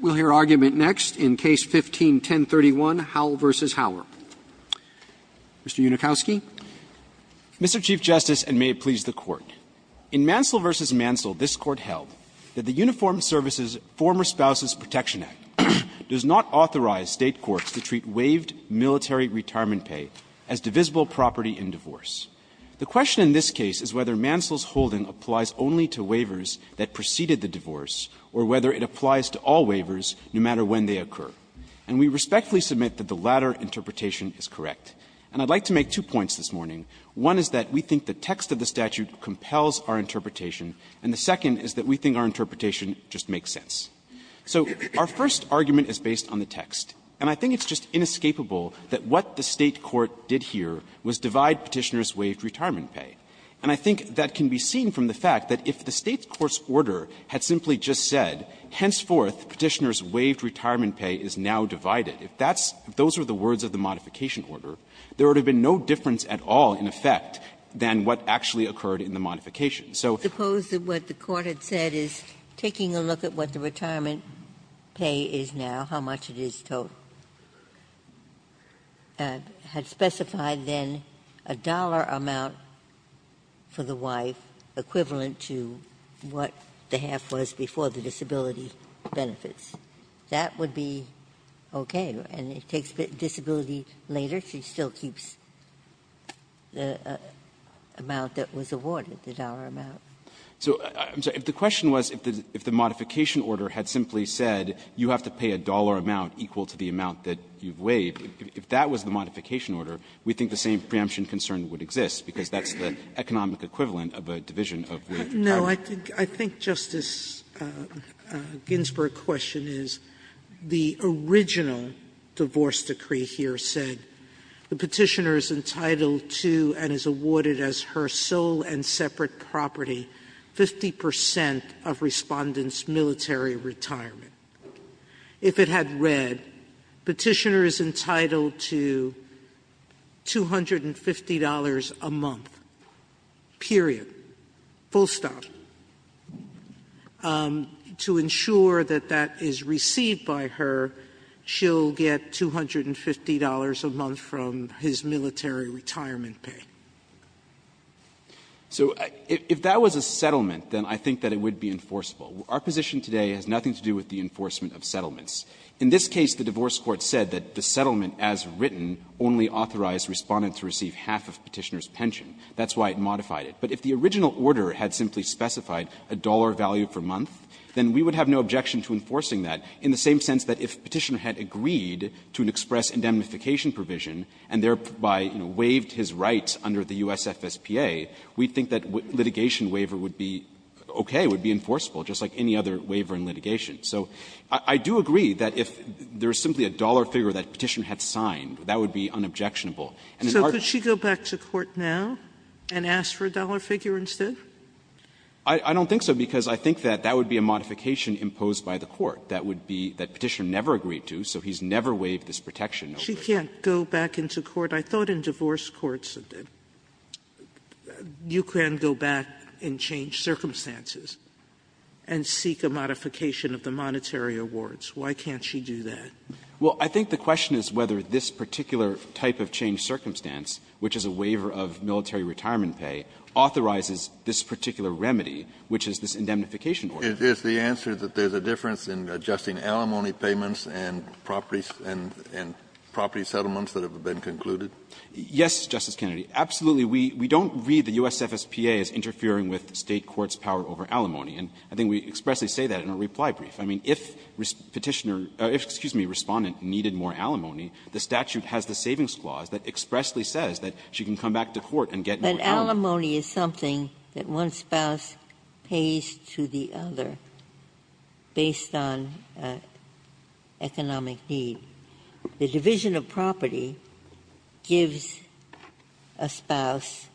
We'll hear argument next in Case No. 15-1031, Howell v. Howell. Mr. Unikowsky. Mr. Chief Justice, and may it please the Court, in Mansell v. Mansell, this Court held that the Uniformed Services Former Spouses Protection Act does not authorize State courts to treat waived military retirement pay as divisible property in divorce. The question in this case is whether Mansell's holding applies only to waivers that preceded the divorce, or whether it applies to all waivers, no matter when they occur. And we respectfully submit that the latter interpretation is correct. And I'd like to make two points this morning. One is that we think the text of the statute compels our interpretation, and the second is that we think our interpretation just makes sense. So our first argument is based on the text. And I think it's just inescapable that what the State court did here was divide Petitioner's waived retirement pay. And I think that can be seen from the fact that if the State court's order had simply just said, henceforth, Petitioner's waived retirement pay is now divided, if that's the words of the modification order, there would have been no difference at all in effect than what actually occurred in the modification. So the court had said is, taking a look at what the retirement pay is now, how much it is, had specified then a dollar amount for the wife equivalent to what the half was before the disability benefits. That would be okay. And it takes disability later. She still keeps the amount that was awarded, the dollar amount. So the question was, if the modification order had simply said, you have to pay a dollar amount equal to the amount that you've waived, if that was the modification order, we think the same preemption concern would exist, because that's the economic equivalent of a division of the half. Sotomayor, I think Justice Ginsburg's question is, the original divorce decree here said the Petitioner is entitled to and is awarded as her sole and separate property 50 percent of Respondent's military retirement. If it had read Petitioner is entitled to $250 a month, period, full stop, to ensure that that is received by her, she'll get $250 a month from his military retirement pay. So if that was a settlement, then I think that it would be enforceable. Our position today has nothing to do with the enforcement of settlements. In this case, the divorce court said that the settlement as written only authorized Respondent to receive half of Petitioner's pension. That's why it modified it. But if the original order had simply specified a dollar value per month, then we would have no objection to enforcing that, in the same sense that if Petitioner had agreed to an express indemnification provision and thereby waived his right under the USFSPA, we'd think that litigation waiver would be okay, would be enforceable, just like any other waiver in litigation. So I do agree that if there is simply a dollar figure that Petitioner had signed, that would be unobjectionable. And in our case we would have no objection to enforcing that. Sotomayor, so could she go back to court now and ask for a dollar figure instead? I don't think so, because I think that that would be a modification imposed by the court. That would be that Petitioner never agreed to, so he's never waived this protection over there. Sotomayor, she can't go back into court. I thought in divorce courts you can go back and change circumstances. And seek a modification of the monetary awards. Why can't she do that? Well, I think the question is whether this particular type of change circumstance, which is a waiver of military retirement pay, authorizes this particular remedy, which is this indemnification order. Is the answer that there's a difference in adjusting alimony payments and property settlements that have been concluded? Yes, Justice Kennedy. Absolutely, we don't read the U.S. FSPA as interfering with State court's power over alimony. And I think we expressly say that in our reply brief. I mean, if Petitioner or, excuse me, Respondent needed more alimony, the statute has the savings clause that expressly says that she can come back to court and get more alimony. Ginsburg. But alimony is something that one spouse pays to the other based on economic need. The division of property gives a spouse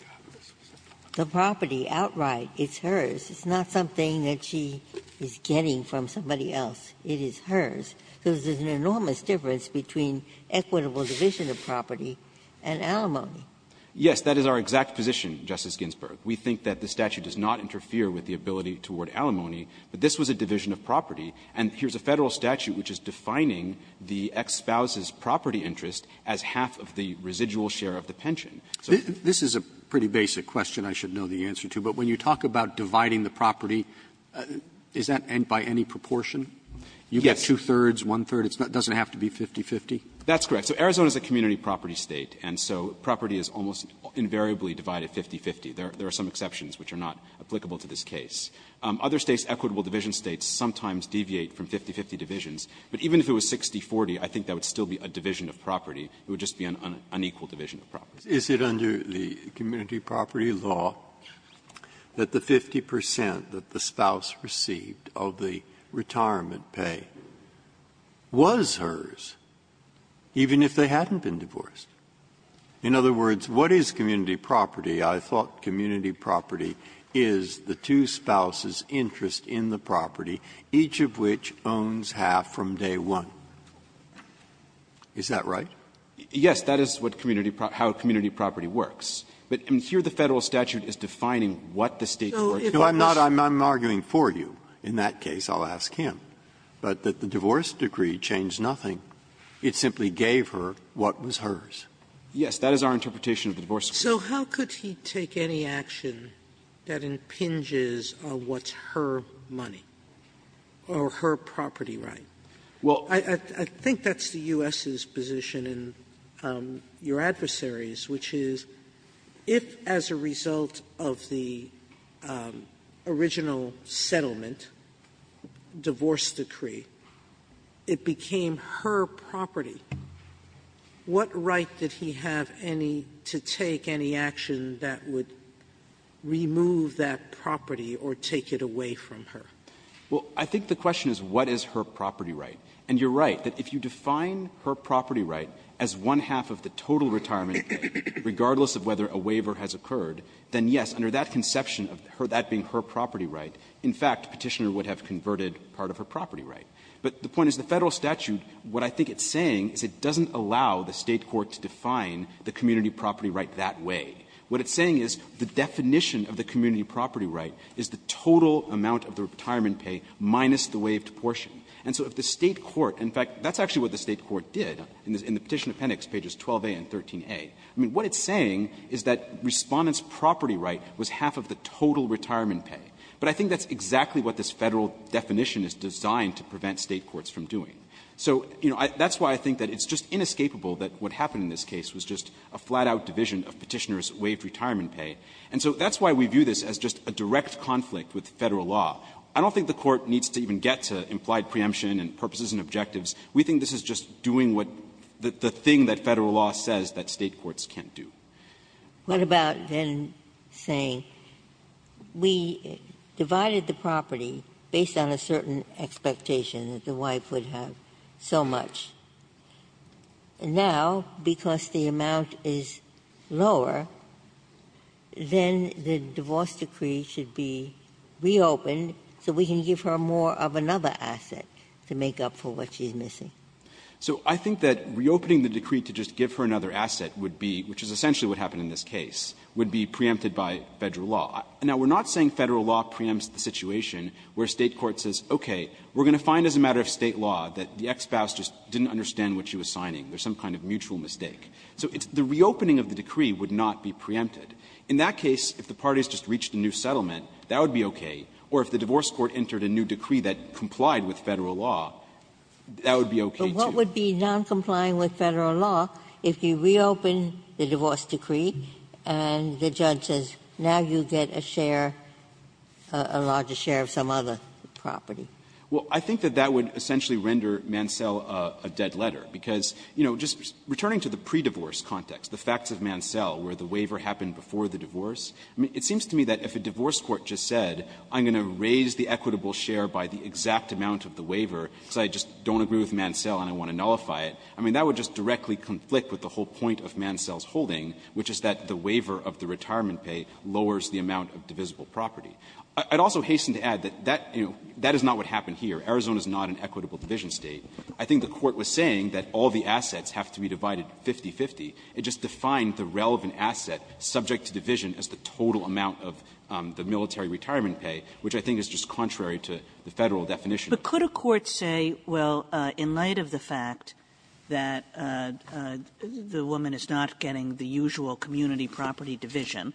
the property outright. It's hers. It's not something that she is getting from somebody else. It is hers. So there's an enormous difference between equitable division of property and alimony. Yes, that is our exact position, Justice Ginsburg. We think that the statute does not interfere with the ability toward alimony, but this was a division of property. And here's a Federal statute which is defining the ex-spouse's property interest as half of the residual share of the pension. So this is a pretty basic question I should know the answer to, but when you talk about dividing the property, does that end by any proportion? You get two-thirds, one-third. It doesn't have to be 50-50? That's correct. So Arizona is a community property State, and so property is almost invariably divided 50-50. There are some exceptions which are not applicable to this case. Other States, equitable division States, sometimes deviate from 50-50 divisions. But even if it was 60-40, I think that would still be a division of property. It would just be an unequal division of property. Breyer, is it under the community property law that the 50 percent that the spouse received of the retirement pay was hers, even if they hadn't been divorced? In other words, what is community property? I thought community property is the two-spouse's interest in the property, each of which owns half from day one. Is that right? Yes, that is what community property – how community property works. But here the Federal statute is defining what the State's worth is. No, I'm not – I'm arguing for you in that case. I'll ask him. But that the divorce decree changed nothing. It simply gave her what was hers. Yes, that is our interpretation of the divorce decree. Sotomayor, so how could he take any action that impinges on what's her money or her property right? Well, I think that's the U.S.'s position and your adversary's, which is if as a result of the original settlement, divorce decree, it became her property, what right did he have any – to take any action that would remove that property or take it away from her? Well, I think the question is what is her property right. And you're right, that if you define her property right as one-half of the total retirement pay, regardless of whether a waiver has occurred, then yes, under that conception of that being her property right, in fact, Petitioner would have converted part of her property right. But the point is the Federal statute, what I think it's saying is it doesn't allow the State court to define the community property right that way. What it's saying is the definition of the community property right is the total amount of the retirement pay minus the waived portion. And so if the State court – in fact, that's actually what the State court did in the Petition Appendix, pages 12a and 13a. I mean, what it's saying is that Respondent's property right was half of the total retirement pay. But I think that's exactly what this Federal definition is designed to prevent State courts from doing. So, you know, that's why I think that it's just inescapable that what happened in this case was just a flat-out division of Petitioner's waived retirement pay. And so that's why we view this as just a direct conflict with Federal law. I don't think the Court needs to even get to implied preemption and purposes and objectives. We think this is just doing what the thing that Federal law says that State courts can't do. Ginsburg, what about then saying, we divided the property based on a certain expectation that the wife would have so much, and now, because the amount is lower, then the divorce decree should be reopened so we can give her more of another asset to make up for what she's missing? So I think that reopening the decree to just give her another asset would be, which is essentially what happened in this case, would be preempted by Federal law. Now, we're not saying Federal law preempts the situation where State court says, okay, we're going to find as a matter of State law that the ex-spouse just didn't understand what she was signing. There's some kind of mutual mistake. So the reopening of the decree would not be preempted. In that case, if the parties just reached a new settlement, that would be okay. Or if the divorce court entered a new decree that complied with Federal law, that would be okay, too. Ginsburg, but what would be noncompliant with Federal law if you reopened the divorce decree and the judge says, now you get a share, a larger share of some other property? Well, I think that that would essentially render Mansell a dead letter, because, you know, just returning to the pre-divorce context, the facts of Mansell where the waiver happened before the divorce, it seems to me that if a divorce court just said, I'm going to raise the equitable share by the exact amount of the waiver because I just don't agree with Mansell and I want to nullify it, I mean, that would just directly conflict with the whole point of Mansell's holding, which is that the court was saying that all the assets have to be divided 50-50. It just defined the relevant asset subject to division as the total amount of the military retirement pay, which I think is just contrary to the Federal definition. But could a court say, well, in light of the fact that the woman is not getting the usual community property division,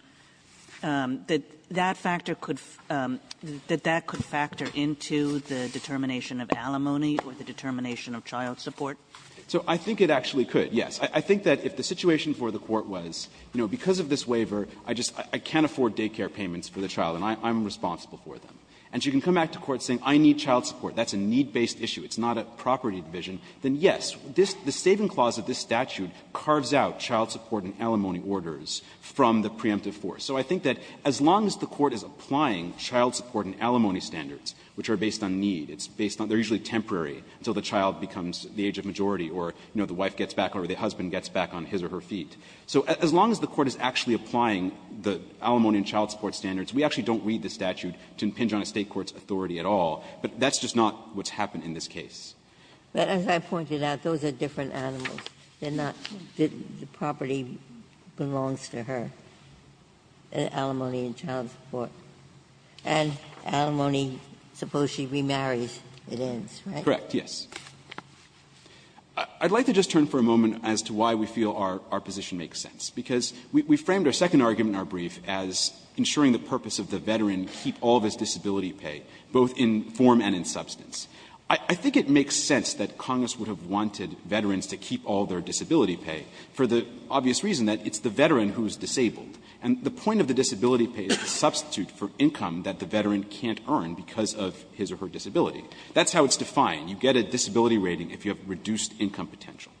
that that factor could – that that could factor into the determination of alimony or the determination of child support? So I think it actually could, yes. I think that if the situation for the court was, you know, because of this waiver, I just – I can't afford daycare payments for the child and I'm responsible for them, and she can come back to court saying, I need child support, that's a need-based issue, it's not a property division, then, yes, this – the saving clause of this statute carves out child support and alimony orders from the preemptive force. So I think that as long as the court is applying child support and alimony standards, which are based on need, it's based on – they're usually temporary until the child becomes the age of majority or, you know, the wife gets back or the husband gets back on his or her feet. So as long as the court is actually applying the alimony and child support standards, we actually don't read the statute to impinge on a State court's authority at all. But that's just not what's happened in this case. Ginsburg. But as I pointed out, those are different animals. They're not – the property belongs to her. And alimony and child support. And alimony, suppose she remarries, it ends, right? Horwich. Yes. I'd like to just turn for a moment as to why we feel our position makes sense, because we framed our second argument in our brief as ensuring the purpose of the veteran keep all of his disability pay, both in form and in substance. I think it makes sense that Congress would have wanted veterans to keep all their disability pay for the obvious reason that it's the veteran who is disabled. And the point of the disability pay is to substitute for income that the veteran can't earn because of his or her disability. That's how it's defined. You get a disability rating if you have reduced income potential.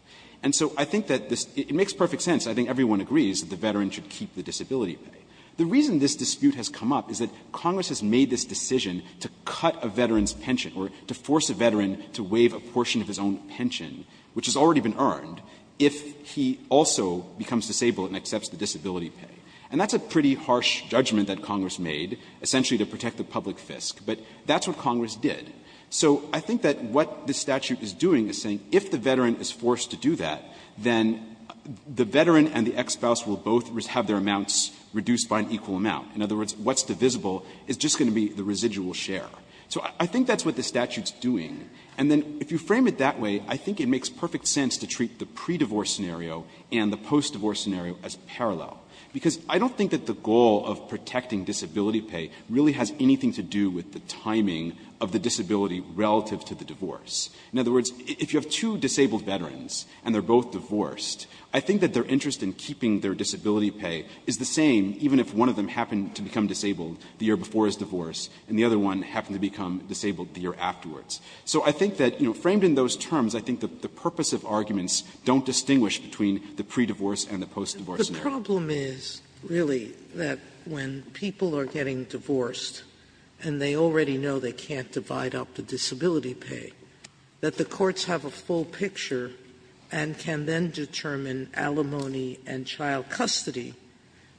And so I think that this – it makes perfect sense. I think everyone agrees that the veteran should keep the disability pay. The reason this dispute has come up is that Congress has made this decision to cut a veteran's pension or to force a veteran to waive a portion of his own pension, which has already been earned, if he also becomes disabled and accepts the disability pay. And that's a pretty harsh judgment that Congress made, essentially to protect the public fisc. But that's what Congress did. So I think that what the statute is doing is saying if the veteran is forced to do that, then the veteran and the ex-spouse will both have their amounts reduced by an equal amount. In other words, what's divisible is just going to be the residual share. So I think that's what the statute's doing. And then if you frame it that way, I think it makes perfect sense to treat the pre-divorce scenario and the post-divorce scenario as parallel, because I don't think that the goal of protecting disability pay really has anything to do with the timing of the disability relative to the divorce. In other words, if you have two disabled veterans and they're both divorced, I think that their interest in keeping their disability pay is the same even if one of them happened to become disabled the year before his divorce and the other one happened to become disabled the year afterwards. So I think that, you know, framed in those terms, I think the purpose of arguments don't distinguish between the pre-divorce and the post-divorce scenario. Sotomayor, The problem is, really, that when people are getting divorced and they already know they can't divide up the disability pay, that the courts have a full picture and can then determine alimony and child custody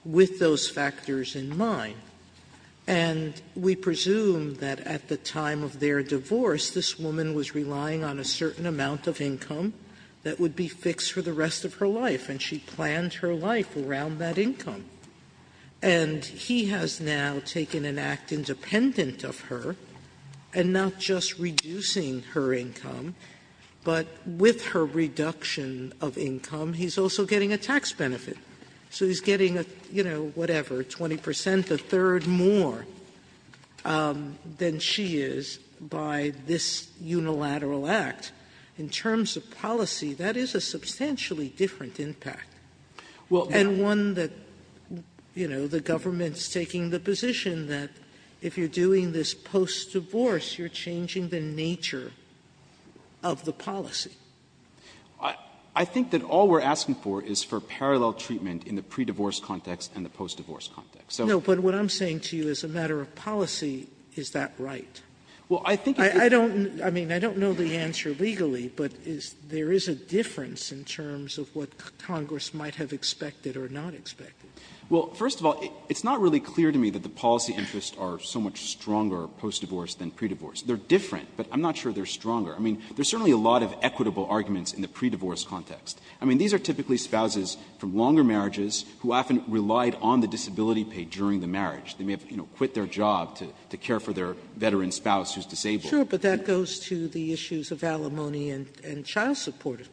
with those factors in mind. And we presume that at the time of their divorce, this woman was relying on a certain amount of income that would be fixed for the rest of her life, and she planned her life around that income. And he has now taken an act independent of her, and not just reducing her income, but with her reduction of income, he's also getting a tax benefit. So he's getting a, you know, whatever, 20 percent, a third more than she is by this unilateral act. In terms of policy, that is a substantially different impact. And one that, you know, the government's taking the position that if you're doing this post-divorce, you're changing the nature of the policy. I think that all we're asking for is for parallel treatment in the pre-divorce context and the post-divorce context. So what I'm saying to you, as a matter of policy, is that right? Well, I think it's the same. I don't know the answer legally, but there is a difference in terms of what Congress might have expected or not expected. Well, first of all, it's not really clear to me that the policy interests are so much stronger post-divorce than pre-divorce. They're different, but I'm not sure they're stronger. I mean, there's certainly a lot of equitable arguments in the pre-divorce context. I mean, these are typically spouses from longer marriages who often relied on the disability pay during the marriage. They may have, you know, quit their job to care for their veteran spouse who's disabled. Sotomayor, but that goes to the issues of alimony and child support.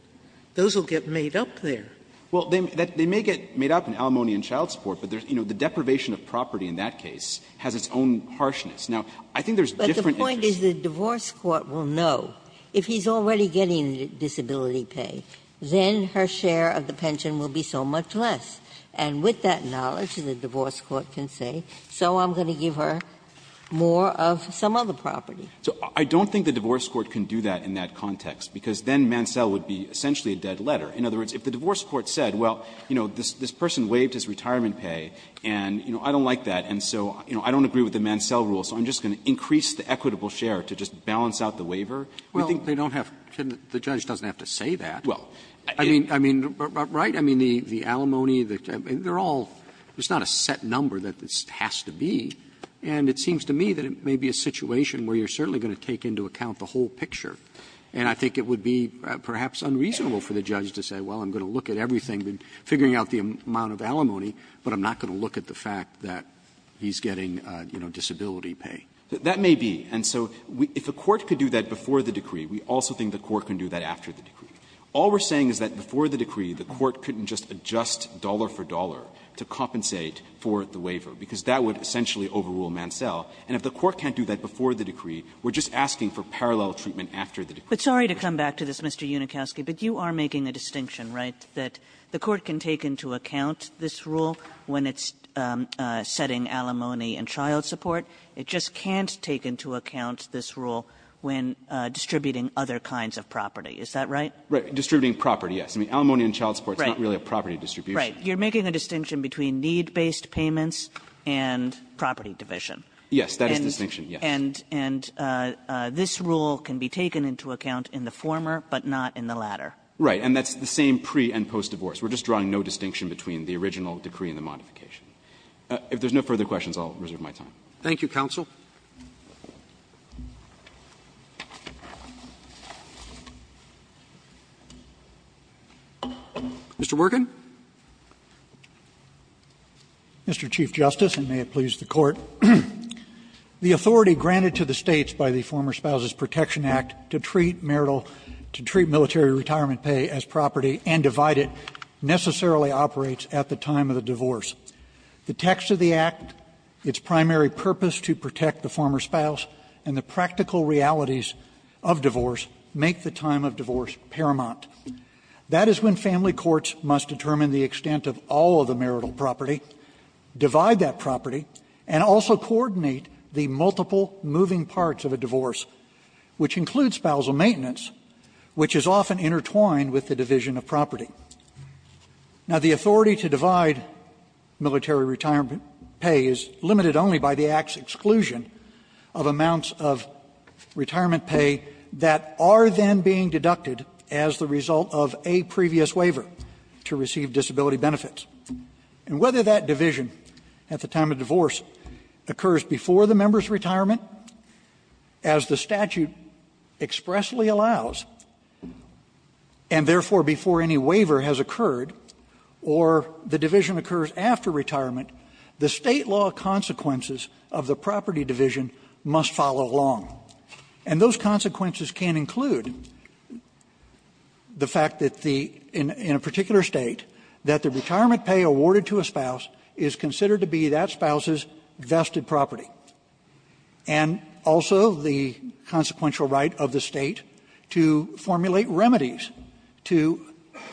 Those will get made up there. Well, they may get made up in alimony and child support, but, you know, the deprivation of property in that case has its own harshness. Now, I think there's different interests. Ginsburg's point is the divorce court will know, if he's already getting disability pay, then her share of the pension will be so much less. And with that knowledge, the divorce court can say, so I'm going to give her more of some other property. So I don't think the divorce court can do that in that context, because then Mansell would be essentially a dead letter. In other words, if the divorce court said, well, you know, this person waived his retirement pay, and, you know, I don't like that, and so, you know, I don't agree with the Mansell rule, so I'm just going to increase the equitable share to just balance out the waiver. I think they don't have to say that. Well, I mean, right? I mean, the alimony, they're all, it's not a set number that it has to be. And it seems to me that it may be a situation where you're certainly going to take into account the whole picture. And I think it would be perhaps unreasonable for the judge to say, well, I'm going to look at everything, figuring out the amount of alimony, but I'm not going to look at the fact that he's getting, you know, disability pay. That may be. And so we – if a court could do that before the decree, we also think the court can do that after the decree. All we're saying is that before the decree, the court couldn't just adjust dollar for dollar to compensate for the waiver, because that would essentially overrule Mansell. And if the court can't do that before the decree, we're just asking for parallel treatment after the decree. Kagan. Kagan. Kagan. Kagan. Kagan. Kagan. Kagan. Kagan. Kagan. Kagan. Kagan. Division. And this rule is not about setting alimony and child support. It just can't take into account this rule when distributing other kinds of property. Is that right? Right. Distributing property. Yes. I mean, alimony and child support is not really a property distribution. Right. You're making a distinction between need-based payments and property division. Yes. That is a distinction, yes. And this rule can be taken into account in the former but not in the latter. Right. And that's the same pre- and post-divorce. We're just drawing no distinction between the original decree and the modification. If there's no further questions, I'll reserve my time. Thank you, counsel. Mr. Workin. Mr. Chief Justice, and may it please the Court. The authority granted to the States by the Former Spouses Protection Act to treat marital to treat military retirement pay as property and divide it necessarily operates at the time of the divorce. The text of the Act, its primary purpose to protect the former spouse, and the practical realities of divorce make the time of divorce paramount. That is when family courts must determine the extent of all of the marital property, divide that property, and also coordinate the multiple moving parts of a divorce, which includes spousal maintenance, which is often intertwined with the division of property. Now, the authority to divide military retirement pay is limited only by the Act's exclusion of amounts of retirement pay that are then being deducted as the result of a previous waiver to receive disability benefits. And whether that division at the time of divorce occurs before the member's retirement, as the statute expressly allows, and therefore before any waiver has occurred, or the division occurs after retirement, the State law consequences of the property division must follow along. And those consequences can include the fact that the, in a particular State, that the retirement pay awarded to a spouse is considered to be that spouse's vested property. And also the consequential right of the State to formulate remedies to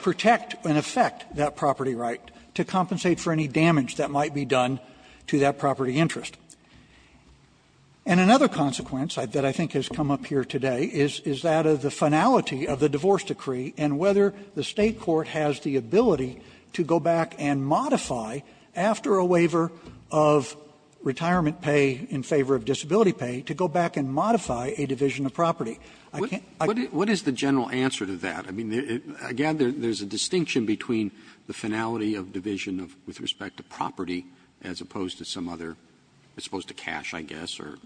protect and affect that property right, to compensate for any damage that might be done to that property interest. And another consequence that I think has come up here today is that of the finality of the divorce decree, and whether the State court has the ability to go back and modify a division of property. I can't ---- Roberts. What is the general answer to that? I mean, again, there's a distinction between the finality of division with respect to property as opposed to some other, as opposed to cash, I guess, or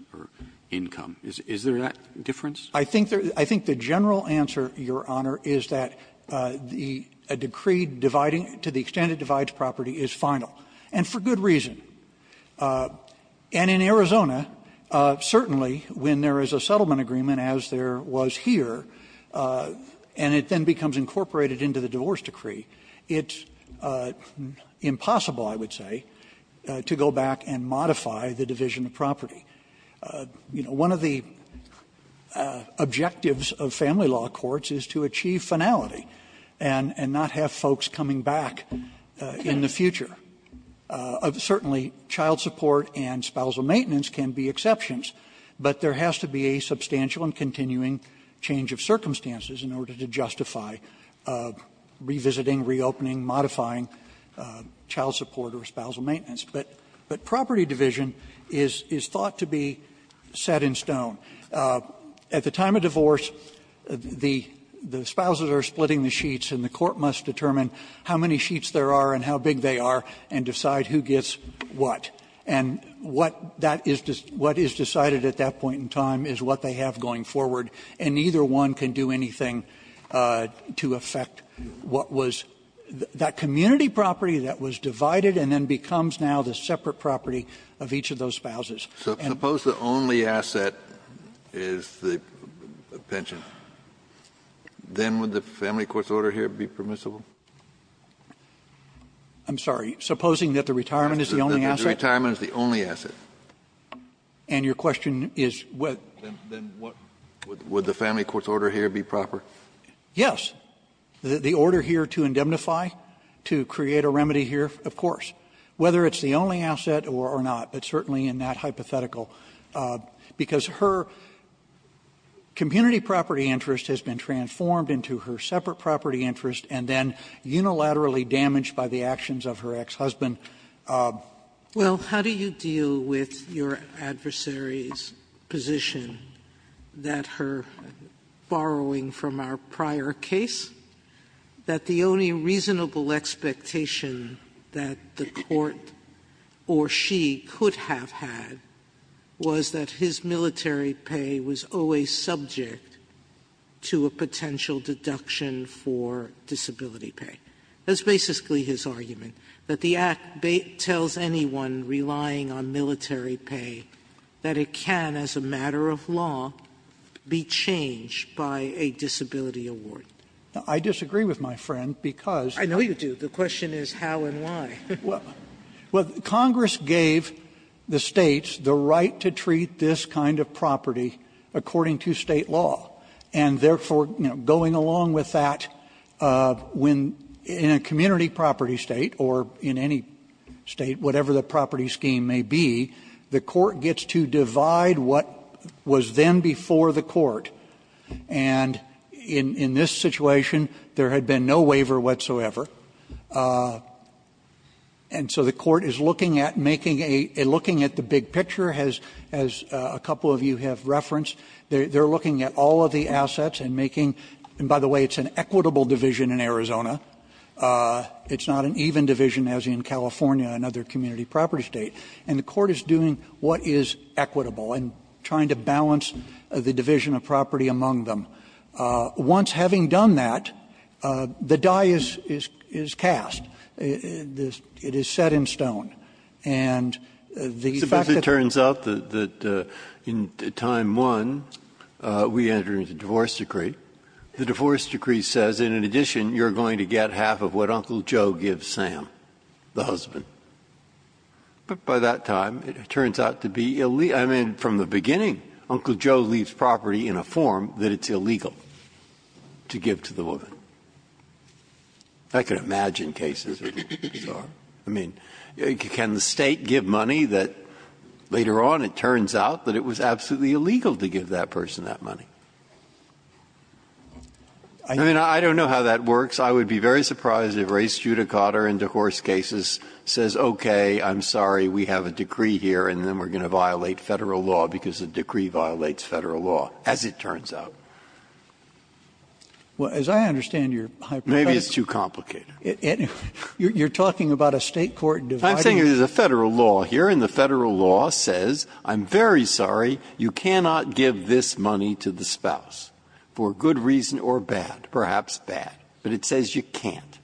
income. Is there that difference? I think there's the general answer, Your Honor, is that the decree dividing to the extent it divides property is final, and for good reason. And in Arizona, certainly, when there is a settlement agreement, as there was here, and it then becomes incorporated into the divorce decree, it's impossible, I would say, to go back and modify the division of property. You know, one of the objectives of family law courts is to achieve finality and not have folks coming back in the future. Certainly, child support and spousal maintenance can be exceptions, but there has to be a substantial and continuing change of circumstances in order to justify revisiting, reopening, modifying child support or spousal maintenance. But property division is thought to be set in stone. At the time of divorce, the spouses are splitting the sheets, and the court must determine how many sheets there are and how big they are, and decide who gets what. And what that is dis – what is decided at that point in time is what they have going forward, and neither one can do anything to affect what was that community property that was divided and then becomes now the separate property of each of those spouses. Kennedy, so suppose the only asset is the pension. Then would the family court's order here be permissible? I'm sorry. Supposing that the retirement is the only asset? That the retirement is the only asset. And your question is what – Then what – would the family court's order here be proper? Yes. The order here to indemnify, to create a remedy here, of course. Whether it's the only asset or not, it's certainly in that hypothetical. Because her community property interest has been transformed into her separate property interest, and then unilaterally damaged by the actions of her ex-husband. Well, how do you deal with your adversary's position that her – borrowing from our prior case, that the only reasonable expectation that the court or she could have had was that his military pay was always subject to a potential deduction for disability pay? That's basically his argument, that the Act tells anyone relying on military pay that it can, as a matter of law, be changed by a disability award. I disagree with my friend, because – I know you do. The question is how and why. Well, Congress gave the States the right to treat this kind of property according to State law, and therefore, you know, going along with that, when in a community property State, or in any State, whatever the property scheme may be, the court gets to divide what was then before the court. And in this situation, there had been no waiver whatsoever. And so the court is looking at making a – looking at the big picture, as a couple of you have referenced. They're looking at all of the assets and making – and by the way, it's an equitable division in Arizona. It's not an even division, as in California and other community property States. And the court is doing what is equitable and trying to balance the division of property among them. Once having done that, the die is cast. It is set in stone. And the fact that the – When we enter into divorce decree, the divorce decree says, in addition, you're going to get half of what Uncle Joe gives Sam, the husband. But by that time, it turns out to be – I mean, from the beginning, Uncle Joe leaves property in a form that it's illegal to give to the woman. I can imagine cases of bizarre – I mean, can the State give money that later on it I mean, I don't know how that works. I would be very surprised if Ray Studecotter in divorce cases says, okay, I'm sorry, we have a decree here, and then we're going to violate Federal law because the decree violates Federal law, as it turns out. As I understand your hypothetical – Maybe it's too complicated. You're talking about a State court dividing – I'm saying there's a Federal law here, and the Federal law says, I'm very sorry, you cannot give this money to the spouse, for good reason or bad, perhaps bad. But it says you can't.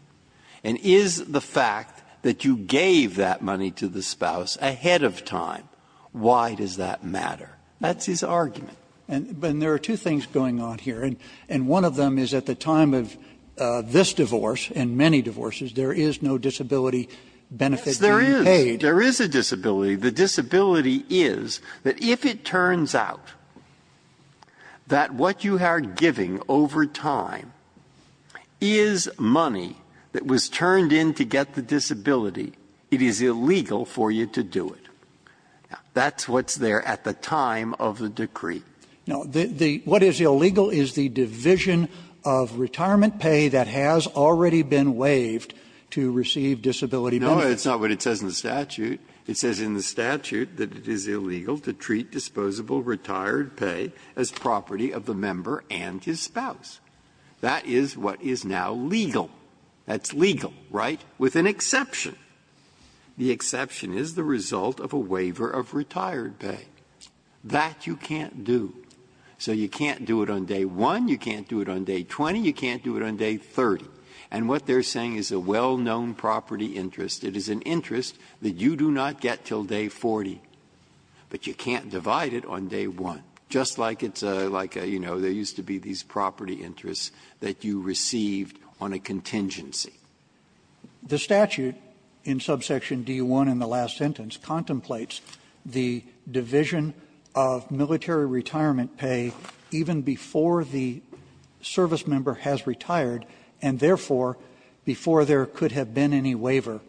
And is the fact that you gave that money to the spouse ahead of time, why does that matter? That's his argument. And there are two things going on here, and one of them is at the time of this divorce and many divorces, there is no disability benefit to be paid. Yes, there is. There is a disability. The disability is that if it turns out that what you are giving over time is money that was turned in to get the disability, it is illegal for you to do it. That's what's there at the time of the decree. No. The – what is illegal is the division of retirement pay that has already been waived to receive disability benefits. No, that's not what it says in the statute. It says in the statute that it is illegal to treat disposable retired pay as property of the member and his spouse. That is what is now legal. That's legal, right? With an exception. The exception is the result of a waiver of retired pay. That you can't do. So you can't do it on day 1, you can't do it on day 20, you can't do it on day 30. And what they are saying is a well-known property interest. It is an interest that you do not get until day 40, but you can't divide it on day 1, just like it's a – like a, you know, there used to be these property interests that you received on a contingency. The statute in subsection D1 in the last sentence contemplates the division of military retirement pay even before the service member has retired and, therefore, before there could have been any waiver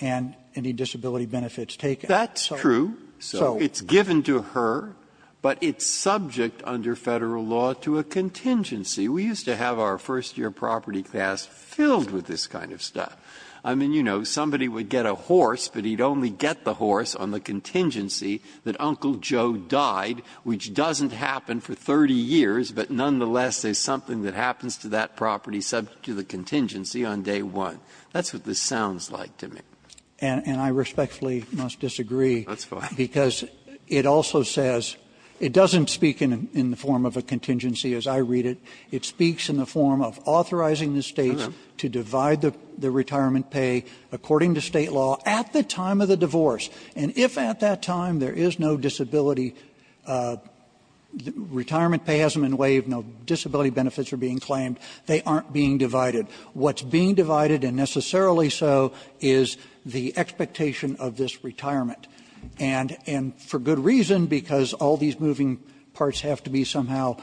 and any disability benefits taken. Breyer. That's true. So it's given to her, but it's subject under Federal law to a contingency. We used to have our first-year property class filled with this kind of stuff. I mean, you know, somebody would get a horse, but he'd only get the horse on the contingency that Uncle Joe died, which doesn't happen for 30 years, but nonetheless, there's something that happens to that property subject to the contingency on day 1. That's what this sounds like to me. And I respectfully must disagree. That's fine. Because it also says – it doesn't speak in the form of a contingency as I read it. It speaks in the form of authorizing the States to divide the retirement pay according to State law at the time of the divorce, and if at that time there is no disability – retirement pay hasn't been waived, no disability benefits are being claimed, they aren't being divided. What's being divided, and necessarily so, is the expectation of this retirement. And for good reason, because all these moving parts have to be somehow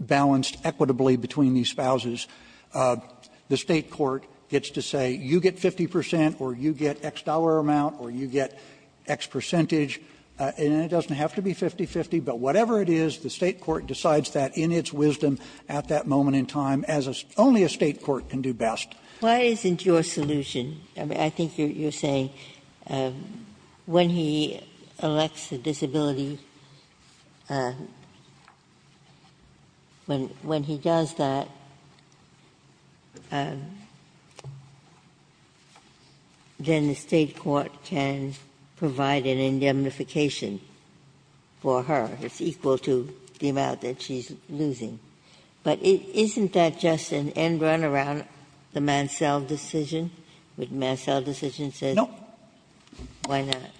balanced equitably between these spouses, the State court gets to say, you get 50 percent or you get X dollar amount or you get X percentage, and it doesn't have to be 50 percent or 50-50, but whatever it is, the State court decides that in its wisdom at that moment in time, as only a State court can do best. Ginsburg-Miller Why isn't your solution – I mean, I think you're saying when he elects a disability, when he does that, then the State court can provide an indemnification for her that's equal to the amount that she's losing. But isn't that just an end run around the Mansell decision? What the Mansell decision says? Kneedler No. Ginsburg-Miller Why not? Kneedler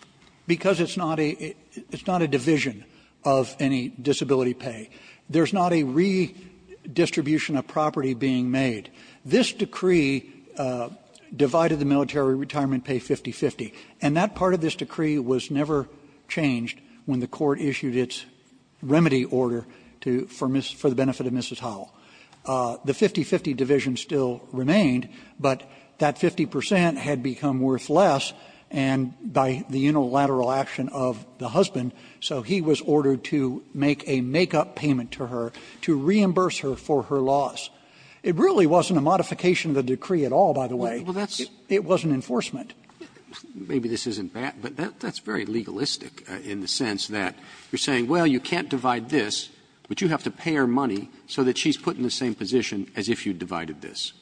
Because it's not a – it's not a division of any disability pay. There's not a redistribution of property being made. This decree divided the military retirement pay 50-50, and that part of this decree was never changed when the court issued its remedy order to – for the benefit of Mrs. Howell. The 50-50 division still remained, but that 50 percent had become worth less, and by the unilateral action of the husband, so he was ordered to make a make-up payment to her to reimburse her for her loss. It really wasn't a modification of the decree at all, by the way. It was an enforcement. Roberts Maybe this isn't bad, but that's very legalistic in the sense that you're saying, well, you can't divide this, but you have to pay her money so that she's put in the same position as if you divided this.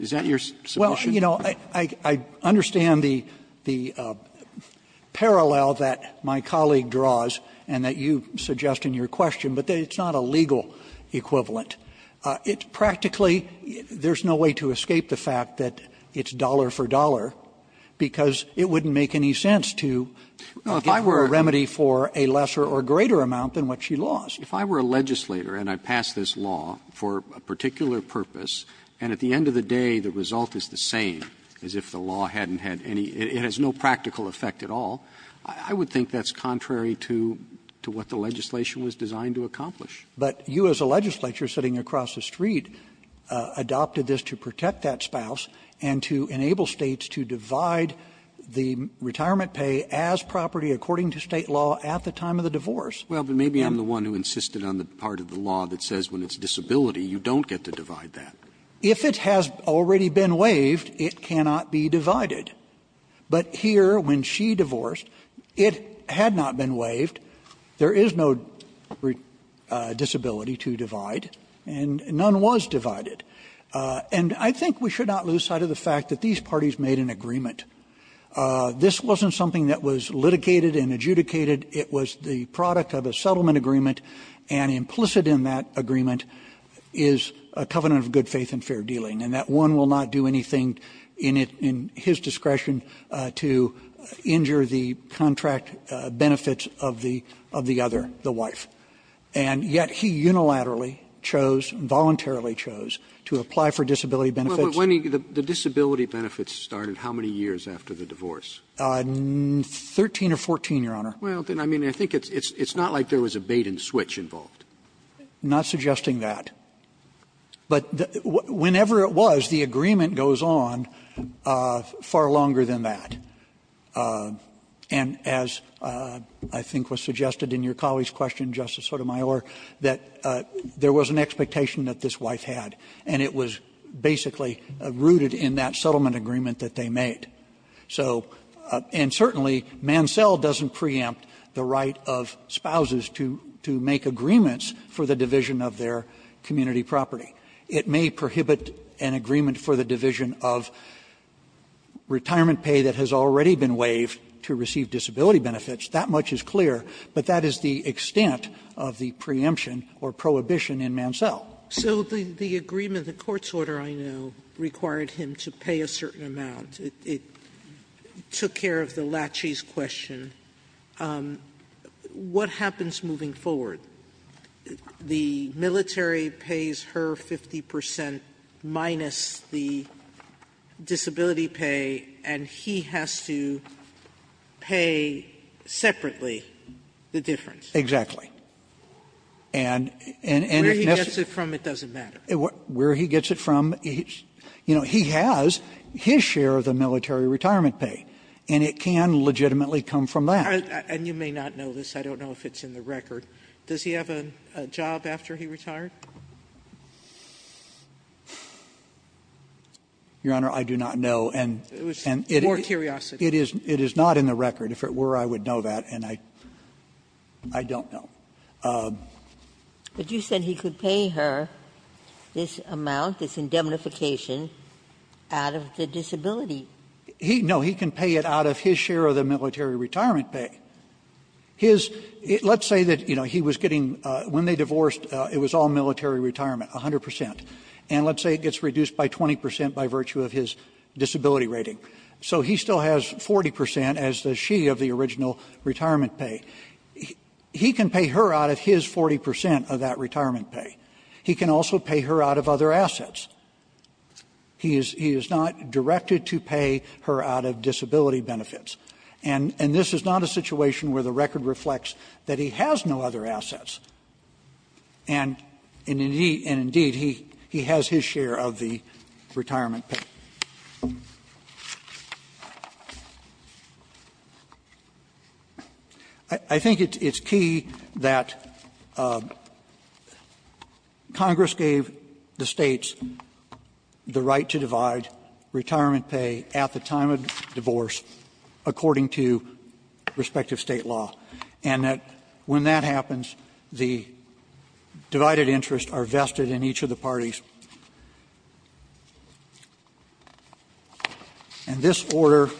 Is that your submission? Kneedler Well, you know, I understand the parallel that my colleague draws and that you suggest in your question, but it's not a legal equivalent. It's practically – there's no way to escape the fact that it's dollar for dollar because it wouldn't make any sense to give her a remedy for a lesser or greater amount than what she lost. Roberts If I were a legislator and I passed this law for a particular purpose, and at the end of the day, the result is the same as if the law hadn't had any – it has no practical effect at all, I would think that's contrary to what the legislation was designed to accomplish. But you as a legislator sitting across the street adopted this to protect that spouse and to enable States to divide the retirement pay as property according to State law at the time of the divorce. Kneedler Well, but maybe I'm the one who insisted on the part of the law that says when it's disability, you don't get to divide that. Roberts If it has already been waived, it cannot be divided. But here, when she divorced, it had not been waived. There is no disability to divide, and none was divided. And I think we should not lose sight of the fact that these parties made an agreement. This wasn't something that was litigated and adjudicated. It was the product of a settlement agreement, and implicit in that agreement is a covenant of good faith and fair dealing, and that one will not do anything in his discretion to injure the contract benefits of the other, the wife. And yet he unilaterally chose, voluntarily chose, to apply for disability benefits. Roberts The disability benefits started how many years after the divorce? Kneedler 13 or 14, Your Honor. Roberts Well, then I mean, I think it's not like there was a bait and switch involved. Kneedler I'm not suggesting that. But whenever it was, the agreement goes on far longer than that. And as I think was suggested in your colleague's question, Justice Sotomayor, that there was an expectation that this wife had, and it was basically rooted in that settlement agreement that they made. So and certainly, Mansell doesn't preempt the right of spouses to make agreements for the division of their community property. It may prohibit an agreement for the division of retirement pay that has already been waived to receive disability benefits. That much is clear, but that is the extent of the preemption or prohibition in Mansell. Sotomayor So the agreement, the court's order, I know, required him to pay a certain amount. It took care of the laches question. What happens moving forward? The military pays her 50 percent minus the disability pay, and he has to pay separately the difference. Kneedler And if necessary ---- Sotomayor Where he gets it from, it doesn't matter. Kneedler Where he gets it from, you know, he has his share of the military retirement pay, and it can legitimately come from that. Sotomayor And you may not know this. I don't know if it's in the record. Does he have a job after he retired? Kneedler Your Honor, I do not know, and it is not in the record. If it were, I would know that, and I don't know. Ginsburg But you said he could pay her this amount, this indemnification, out of the disability. Kneedler No, he can pay it out of his share of the military retirement pay. His ---- let's say that, you know, he was getting ---- when they divorced, it was all military retirement, 100 percent, and let's say it gets reduced by 20 percent by virtue of his disability rating. So he still has 40 percent as the she of the original retirement pay. He can pay her out of his 40 percent of that retirement pay. He can also pay her out of other assets. He is not directed to pay her out of disability benefits, and this is not a situation where the record reflects that he has no other assets, and indeed he has his share of the retirement pay. I think it's key that Congress gave the States the right to divide retirement pay at the time of divorce according to respective State law, and that when that happens, the divided interests are vested in each of the parties. And this order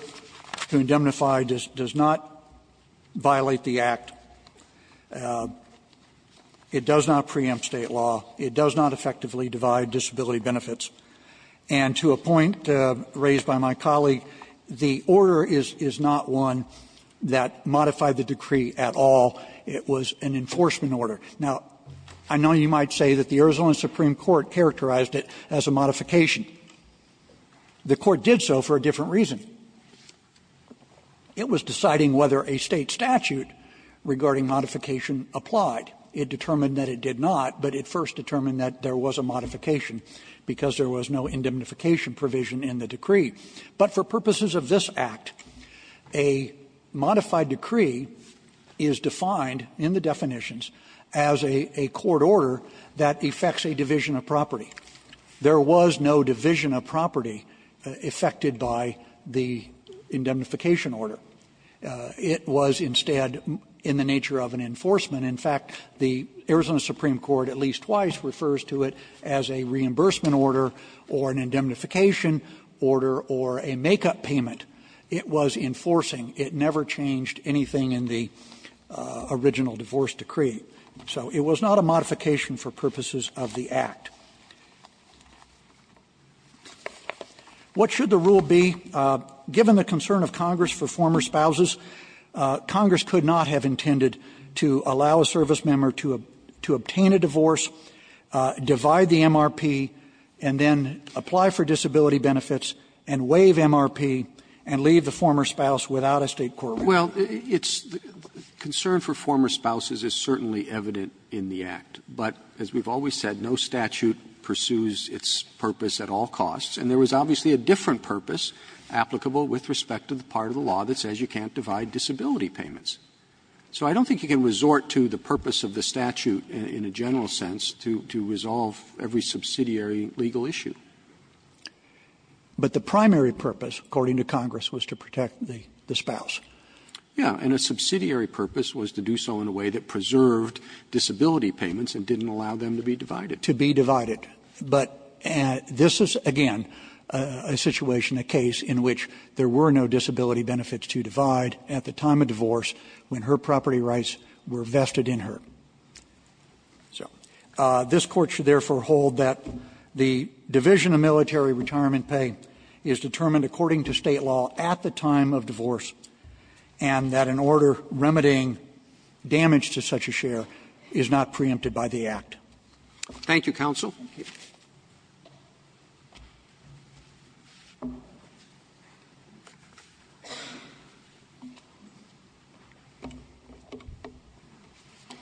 to indemnify does not violate the Act. It does not preempt State law. It does not effectively divide disability benefits. And to a point raised by my colleague, the order is not one that modified the decree at all. It was an enforcement order. Now, I know you might say that the Arizona Supreme Court characterized it as a modification. The Court did so for a different reason. It was deciding whether a State statute regarding modification applied. It determined that it did not, but it first determined that there was a modification because there was no indemnification provision in the decree. But for purposes of this Act, a modified decree is defined in the definitions as a court order that affects a division of property. There was no division of property affected by the indemnification order. It was instead in the nature of an enforcement. In fact, the Arizona Supreme Court at least twice refers to it as a reimbursement order or an indemnification order or a make-up payment. It was enforcing. It never changed anything in the original divorce decree. So it was not a modification for purposes of the Act. What should the rule be? Given the concern of Congress for former spouses, Congress could not have intended to allow a servicemember to obtain a divorce, divide the MRP, and then apply for disability benefits, and waive MRP, and leave the former spouse without a State court order. Roberts. Well, it's the concern for former spouses is certainly evident in the Act. But as we've always said, no statute pursues its purpose at all costs. And there was obviously a different purpose applicable with respect to the part of the law that says you can't divide disability payments. So I don't think you can resort to the purpose of the statute in a general sense to resolve every subsidiary legal issue. But the primary purpose, according to Congress, was to protect the spouse. Yeah. And a subsidiary purpose was to do so in a way that preserved disability payments and didn't allow them to be divided. To be divided. But this is, again, a situation, a case in which there were no disability benefits to divide at the time of divorce when her property rights were vested in her. So this Court should therefore hold that the division of military retirement pay is determined according to State law at the time of divorce, and that an order remedying damage to such a share is not preempted by the Act. Thank you, counsel.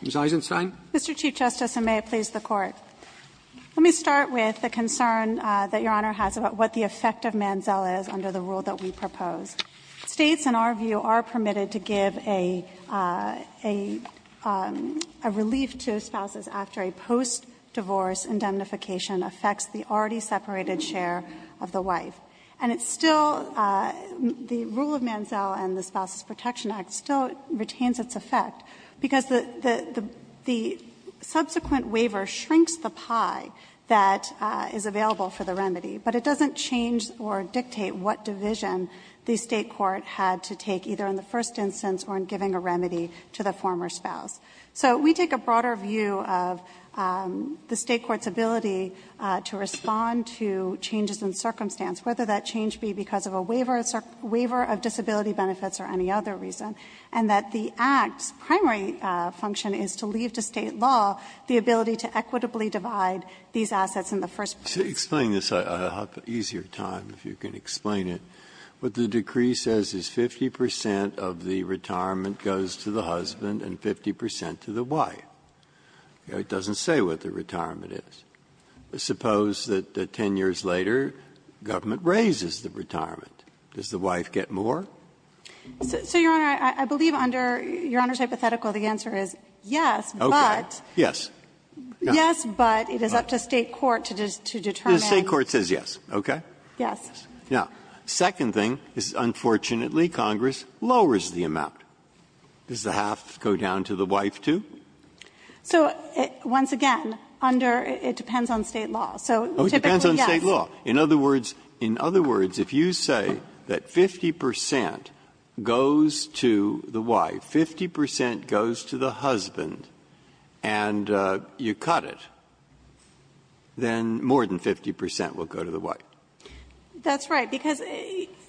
Ms. Eisenstein. Mr. Chief Justice, and may it please the Court. Let me start with the concern that Your Honor has about what the effect of Manziel is under the rule that we propose. States, in our view, are permitted to give a relief to spouses after a post-divorce indemnification affects the already separated share of the wife. And it's still the rule of Manziel and the Spouses Protection Act still retains its effect because the subsequent waiver shrinks the pie that is available for the remedy, but it doesn't change or dictate what division the State court had to take, either in the first instance or in giving a remedy to the former spouse. So we take a broader view of the State court's ability to respond to changes in circumstance, whether that change be because of a waiver of disability benefits or any other reason, and that the Act's primary function is to leave to State law the ability to equitably divide these assets in the first place. Breyer, explaining this, I have an easier time, if you can explain it. What the decree says is 50 percent of the retirement goes to the husband and 50 percent to the wife. It doesn't say what the retirement is. Suppose that 10 years later, government raises the retirement. Does the wife get more? So, Your Honor, I believe under Your Honor's hypothetical, the answer is yes, but. Okay. Yes. Yes, but it is up to State court to determine. The State court says yes, okay? Yes. Now, second thing is, unfortunately, Congress lowers the amount. Does the half go down to the wife, too? So, once again, under, it depends on State law. So, typically, yes. Oh, it depends on State law. In other words, in other words, if you say that 50 percent goes to the wife, 50 percent goes to the husband, and you cut it, then more than 50 percent will go to the wife. That's right, because,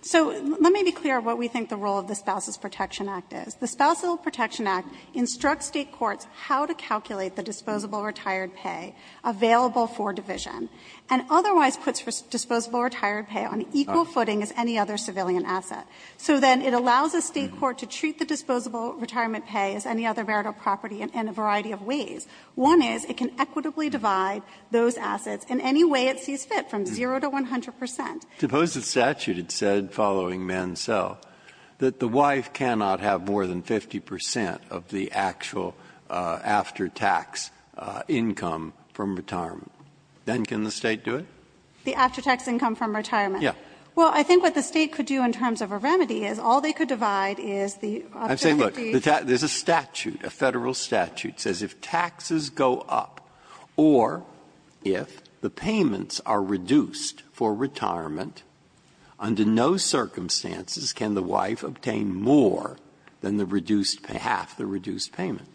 so let me be clear what we think the role of the Spouse's Will Protection Act is. The Spouse's Will Protection Act instructs State courts how to calculate the disposable retired pay available for division, and otherwise puts disposable retired pay on equal footing as any other civilian asset. So then it allows a State court to treat the disposable retirement pay as any other veritable property in a variety of ways. One is, it can equitably divide those assets in any way it sees fit, from 0 to 100 percent. Breyer. Suppose the statute had said, following Mansell, that the wife cannot have more than 50 percent of the actual after-tax income from retirement. Then can the State do it? The after-tax income from retirement? Yes. Well, I think what the State could do in terms of a remedy is, all they could divide is the objective of the State. I'm saying, look, there's a statute, a Federal statute, says if taxes go up, or if the payments are reduced for retirement, under no circumstances can the wife obtain more than the reduced half, the reduced payment.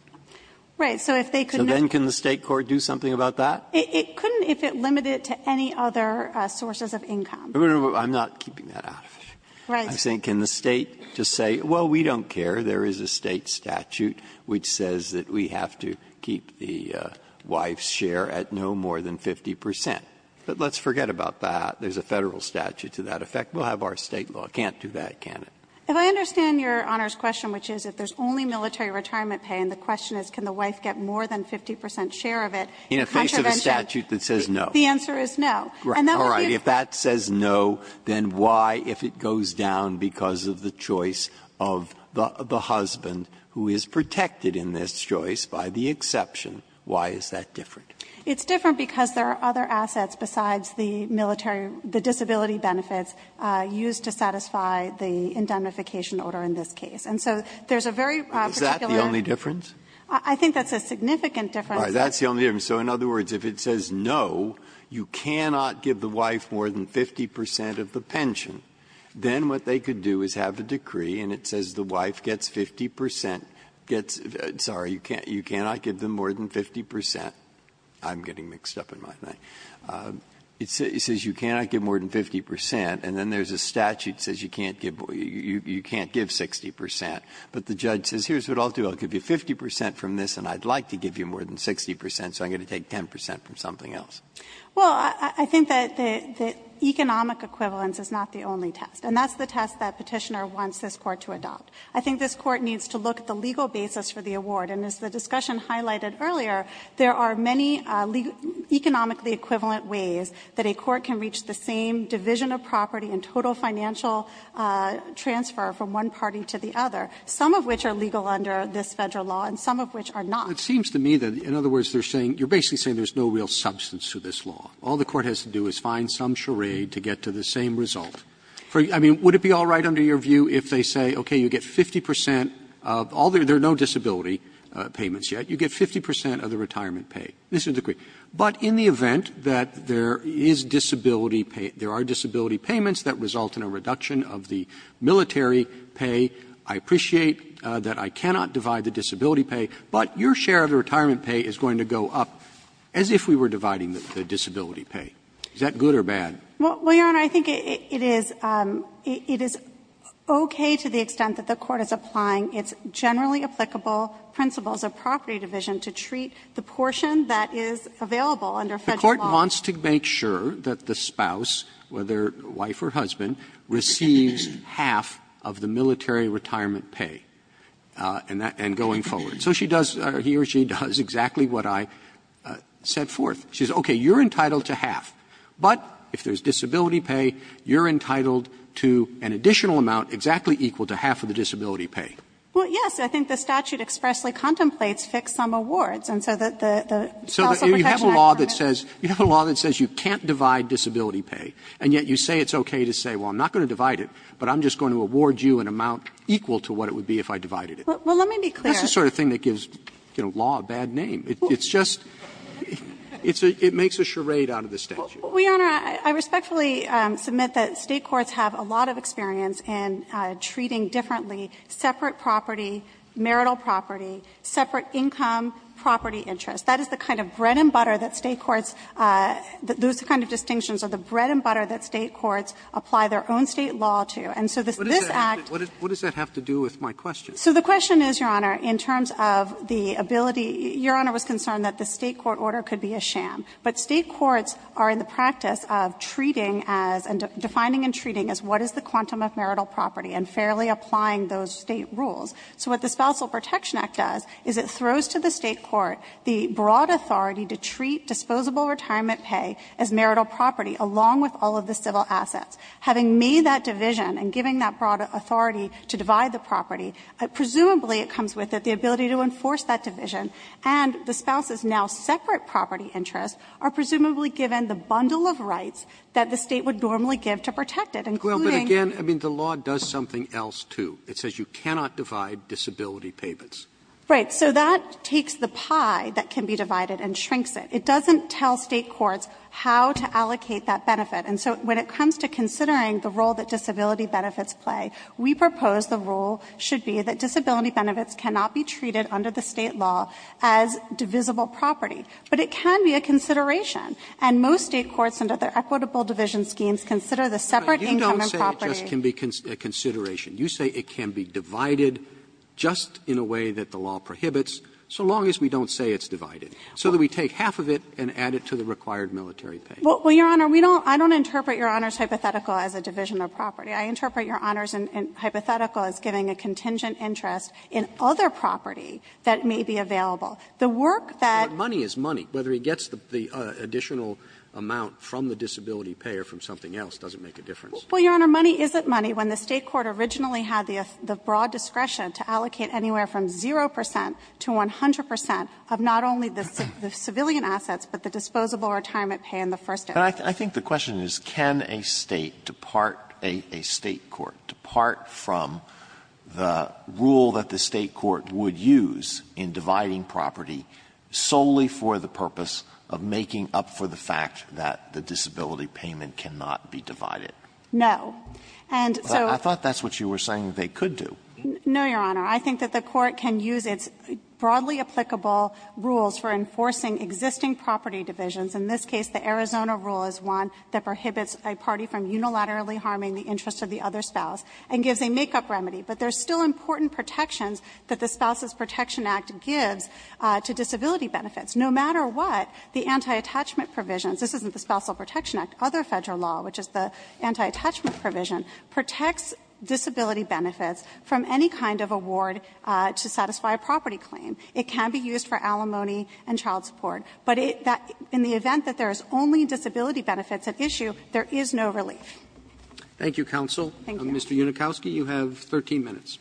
Right. So if they could not do that. So then can the State court do something about that? It couldn't if it limited it to any other sources of income. I'm not keeping that out of it. Right. I'm saying, can the State just say, well, we don't care, there is a State statute which says that we have to keep the wife's share at no more than 50 percent. But let's forget about that. There is a Federal statute to that effect. We'll have our State law. It can't do that, can it? If I understand Your Honor's question, which is if there is only military retirement pay, and the question is can the wife get more than 50 percent share of it in contravention. In the face of a statute that says no. The answer is no. And that would be a. All right. If that says no, then why, if it goes down because of the choice of the husband who is protected in this choice by the exception, why is that different? It's different because there are other assets besides the military, the disability benefits used to satisfy the indemnification order in this case. And so there is a very particular. Is that the only difference? I think that's a significant difference. All right. That's the only difference. So in other words, if it says no, you cannot give the wife more than 50 percent of the pension, then what they could do is have a decree and it says the wife gets 50 percent, gets — sorry, you cannot give them more than 50 percent. I'm getting mixed up in my thing. It says you cannot give more than 50 percent, and then there's a statute that says you can't give 60 percent. But the judge says here's what I'll do, I'll give you 50 percent from this, and I'd like to give you more than 60 percent, so I'm going to take 10 percent from something else. Well, I think that the economic equivalence is not the only test. And that's the test that Petitioner wants this Court to adopt. I think this Court needs to look at the legal basis for the award. And as the discussion highlighted earlier, there are many economically equivalent ways that a court can reach the same division of property and total financial transfer from one party to the other, some of which are legal under this Federal law and some of which are not. Roberts. It seems to me that, in other words, they're saying — you're basically saying there's no real substance to this law. All the Court has to do is find some charade to get to the same result. I mean, would it be all right under your view if they say, okay, you get 50 percent of all the — there are no disability payments yet. You get 50 percent of the retirement pay. This is the — but in the event that there is disability — there are disability payments that result in a reduction of the military pay, I appreciate that I cannot divide the disability pay, but your share of the retirement pay is going to go up as if we were dividing the disability pay. Is that good or bad? Panner. Well, Your Honor, I think it is — it is okay to the extent that the Court is applying its generally applicable principles of property division to treat the portion that is available under Federal law. The Court wants to make sure that the spouse, whether wife or husband, receives half of the military retirement pay, and that — and going forward. So she does — he or she does exactly what I set forth. She says, okay, you're entitled to half, but if there's disability pay, you're entitled to an additional amount exactly equal to half of the disability pay. Well, yes. I think the statute expressly contemplates fixed sum awards, and so that the — So you have a law that says — you have a law that says you can't divide disability pay, and yet you say it's okay to say, well, I'm not going to divide it, but I'm just going to award you an amount equal to what it would be if I divided it. Well, let me be clear. That's the sort of thing that gives, you know, law a bad name. It's just — it's a — it makes a charade out of the statute. Well, Your Honor, I respectfully submit that State courts have a lot of experience in treating differently separate property, marital property, separate income, property interest. That is the kind of bread and butter that State courts — those kind of distinctions are the bread and butter that State courts apply their own State law to. And so this Act — What does that have to do with my question? So the question is, Your Honor, in terms of the ability — Your Honor was concerned that the State court order could be a sham. But State courts are in the practice of treating as — and defining and treating as what is the quantum of marital property and fairly applying those State rules. So what the Spousal Protection Act does is it throws to the State court the broad authority to treat disposable retirement pay as marital property along with all of the civil assets. Having made that division and giving that broad authority to divide the property, presumably it comes with the ability to enforce that division. And the spouse's now separate property interests are presumably given the bundle of rights that the State would normally give to protect it, including — Well, but again, I mean, the law does something else, too. It says you cannot divide disability payments. Right. So that takes the pie that can be divided and shrinks it. It doesn't tell State courts how to allocate that benefit. And so when it comes to considering the role that disability benefits play, we propose the role should be that disability benefits cannot be treated under the State law as divisible property. But it can be a consideration. And most State courts under their equitable division schemes consider the separate income and property. Roberts. Roberts. You don't say it just can be a consideration. You say it can be divided just in a way that the law prohibits, so long as we don't say it's divided, so that we take half of it and add it to the required military pay. Well, Your Honor, we don't — I don't interpret Your Honor's hypothetical as a division of property. I interpret Your Honor's hypothetical as giving a contingent interest in other property that may be available. The work that — But money is money. Whether it gets the additional amount from the disability pay or from something else doesn't make a difference. Well, Your Honor, money isn't money when the State court originally had the broad discretion to allocate anywhere from 0 percent to 100 percent of not only the civilian assets, but the disposable retirement pay in the first instance. But I think the question is, can a State depart — a State court depart from the rule that the State court would use in dividing property solely for the purpose of making up for the fact that the disability payment cannot be divided? No. And so — I thought that's what you were saying they could do. No, Your Honor. I think that the court can use its broadly applicable rules for enforcing existing property divisions. In this case, the Arizona rule is one that prohibits a party from unilaterally harming the interest of the other spouse and gives a make-up remedy. But there's still important protections that the Spousal Protection Act gives to disability benefits. No matter what, the anti-attachment provisions — this isn't the Spousal Protection Act, other Federal law, which is the anti-attachment provision — protects disability benefits from any kind of award to satisfy a property claim. It can be used for alimony and child support. But in the event that there is only disability benefits at issue, there is no relief. Roberts. Thank you, counsel. Unikowsky, you have 13 minutes.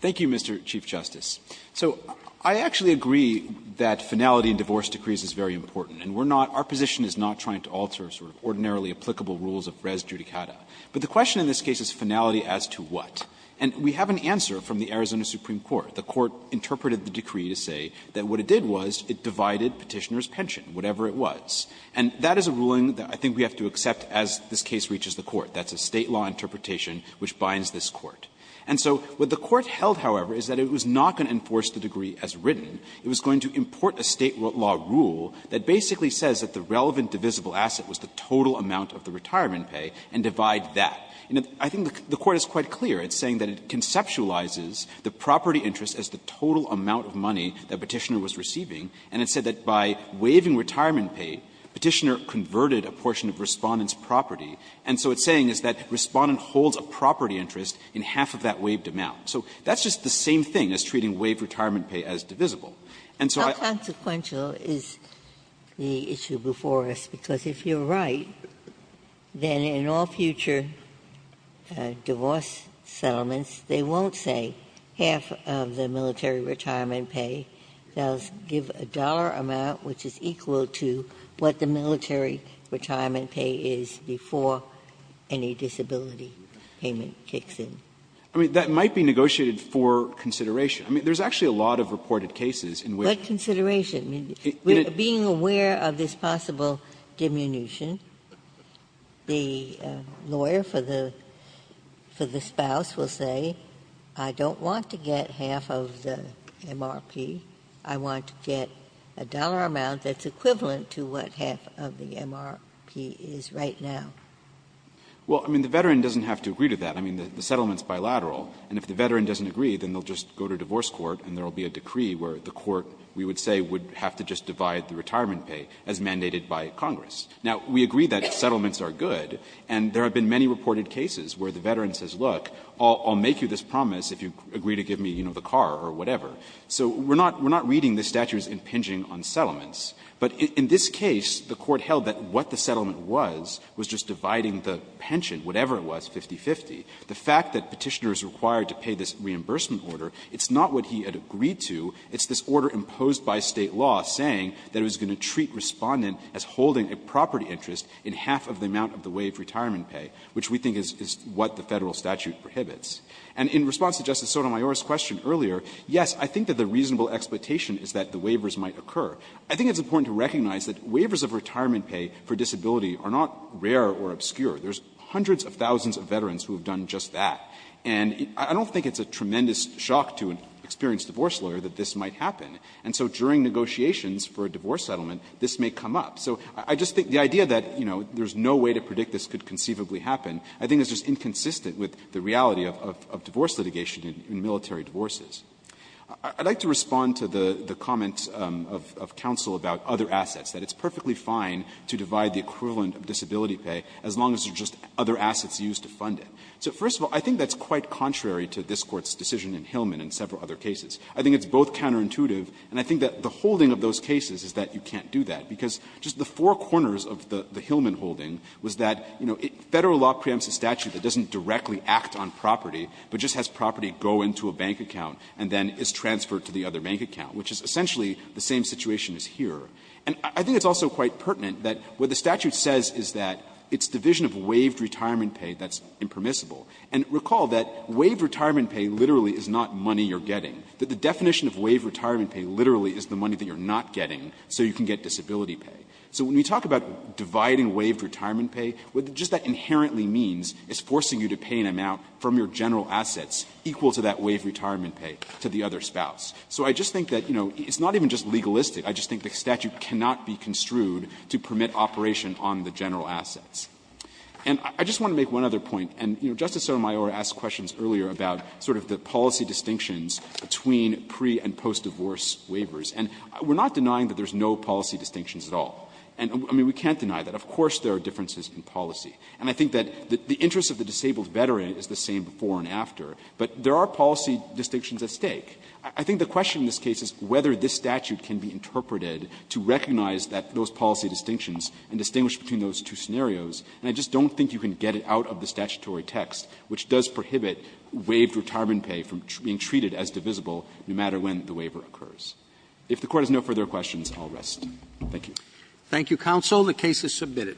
Thank you, Mr. Chief Justice. So I actually agree that finality in divorce decrees is very important. And we're not — our position is not trying to alter sort of ordinarily applicable rules of res judicata. But the question in this case is finality as to what. And we have an answer from the Arizona Supreme Court. The court interpreted the decree to say that what it did was it divided Petitioner's pension, whatever it was. And that is a ruling that I think we have to accept as this case reaches the court. That's a State law interpretation which binds this court. And so what the court held, however, is that it was not going to enforce the degree as written. It was going to import a State law rule that basically says that the relevant divisible asset was the total amount of the retirement pay and divide that. And I think the court is quite clear in saying that it conceptualizes the property interest as the total amount of money that Petitioner was receiving. And it said that by waiving retirement pay, Petitioner converted a portion of Respondent's property. And so what it's saying is that Respondent holds a property interest in half of that waived amount. So that's just the same thing as treating waived retirement pay as divisible. And so I don't think that's a good way to put it. Ginsburg. How consequential is the issue before us? Because if you're right, then in all future divorce settlements, they won't say half of the military retirement pay. They'll give a dollar amount which is equal to what the military retirement pay is before any disability payment kicks in. I mean, that might be negotiated for consideration. I mean, there's actually a lot of reported cases in which the lawyer for the spouse says, look, I want to get half of the MRP, I want to get a dollar amount that's equivalent to what half of the MRP is right now. Well, I mean, the veteran doesn't have to agree to that. I mean, the settlement's bilateral. And if the veteran doesn't agree, then they'll just go to divorce court and there will be a decree where the court, we would say, would have to just divide the retirement pay as mandated by Congress. Now, we agree that settlements are good, and there have been many reported cases where the veteran says, look, I'll make you this promise if you agree to give me, you know, the car or whatever. So we're not reading this statute as impinging on settlements. But in this case, the Court held that what the settlement was was just dividing the pension, whatever it was, 50-50. The fact that Petitioner is required to pay this reimbursement order, it's not what he had agreed to. It's this order imposed by State law saying that it was going to treat Respondent as holding a property interest in half of the amount of the waived retirement pay, which we think is what the Federal statute prohibits. And in response to Justice Sotomayor's question earlier, yes, I think that the reasonable expectation is that the waivers might occur. I think it's important to recognize that waivers of retirement pay for disability are not rare or obscure. There's hundreds of thousands of veterans who have done just that. And I don't think it's a tremendous shock to an experienced divorce lawyer that this might happen. And so during negotiations for a divorce settlement, this may come up. So I just think the idea that, you know, there's no way to predict this could conceivably happen, I think is just inconsistent with the reality of divorce litigation in military divorces. I'd like to respond to the comment of counsel about other assets, that it's perfectly fine to divide the equivalent of disability pay as long as there's just other assets used to fund it. So first of all, I think that's quite contrary to this Court's decision in Hillman and several other cases. I think it's both counterintuitive, and I think that the holding of those cases is that you can't do that. Because just the four corners of the Hillman holding was that, you know, Federal law preempts a statute that doesn't directly act on property, but just has property go into a bank account and then is transferred to the other bank account, which is essentially the same situation as here. And I think it's also quite pertinent that what the statute says is that it's division of waived retirement pay that's impermissible. And recall that waived retirement pay literally is not money you're getting, that the definition of waived retirement pay literally is the money that you're not getting so you can get disability pay. So when we talk about dividing waived retirement pay, what just that inherently means is forcing you to pay an amount from your general assets equal to that waived retirement pay to the other spouse. So I just think that, you know, it's not even just legalistic. I just think the statute cannot be construed to permit operation on the general assets. And I just want to make one other point, and, you know, Justice Sotomayor asked questions earlier about sort of the policy distinctions between pre- and post-divorce waivers. And we're not denying that there's no policy distinctions at all. And, I mean, we can't deny that. Of course there are differences in policy. And I think that the interest of the disabled veteran is the same before and after. But there are policy distinctions at stake. I think the question in this case is whether this statute can be interpreted to recognize that those policy distinctions and distinguish between those two scenarios. And I just don't think you can get it out of the statutory text, which does prohibit waived retirement pay from being treated as divisible no matter when the waiver occurs. If the Court has no further questions, I'll rest. Thank you. Roberts. Thank you, counsel. The case is submitted.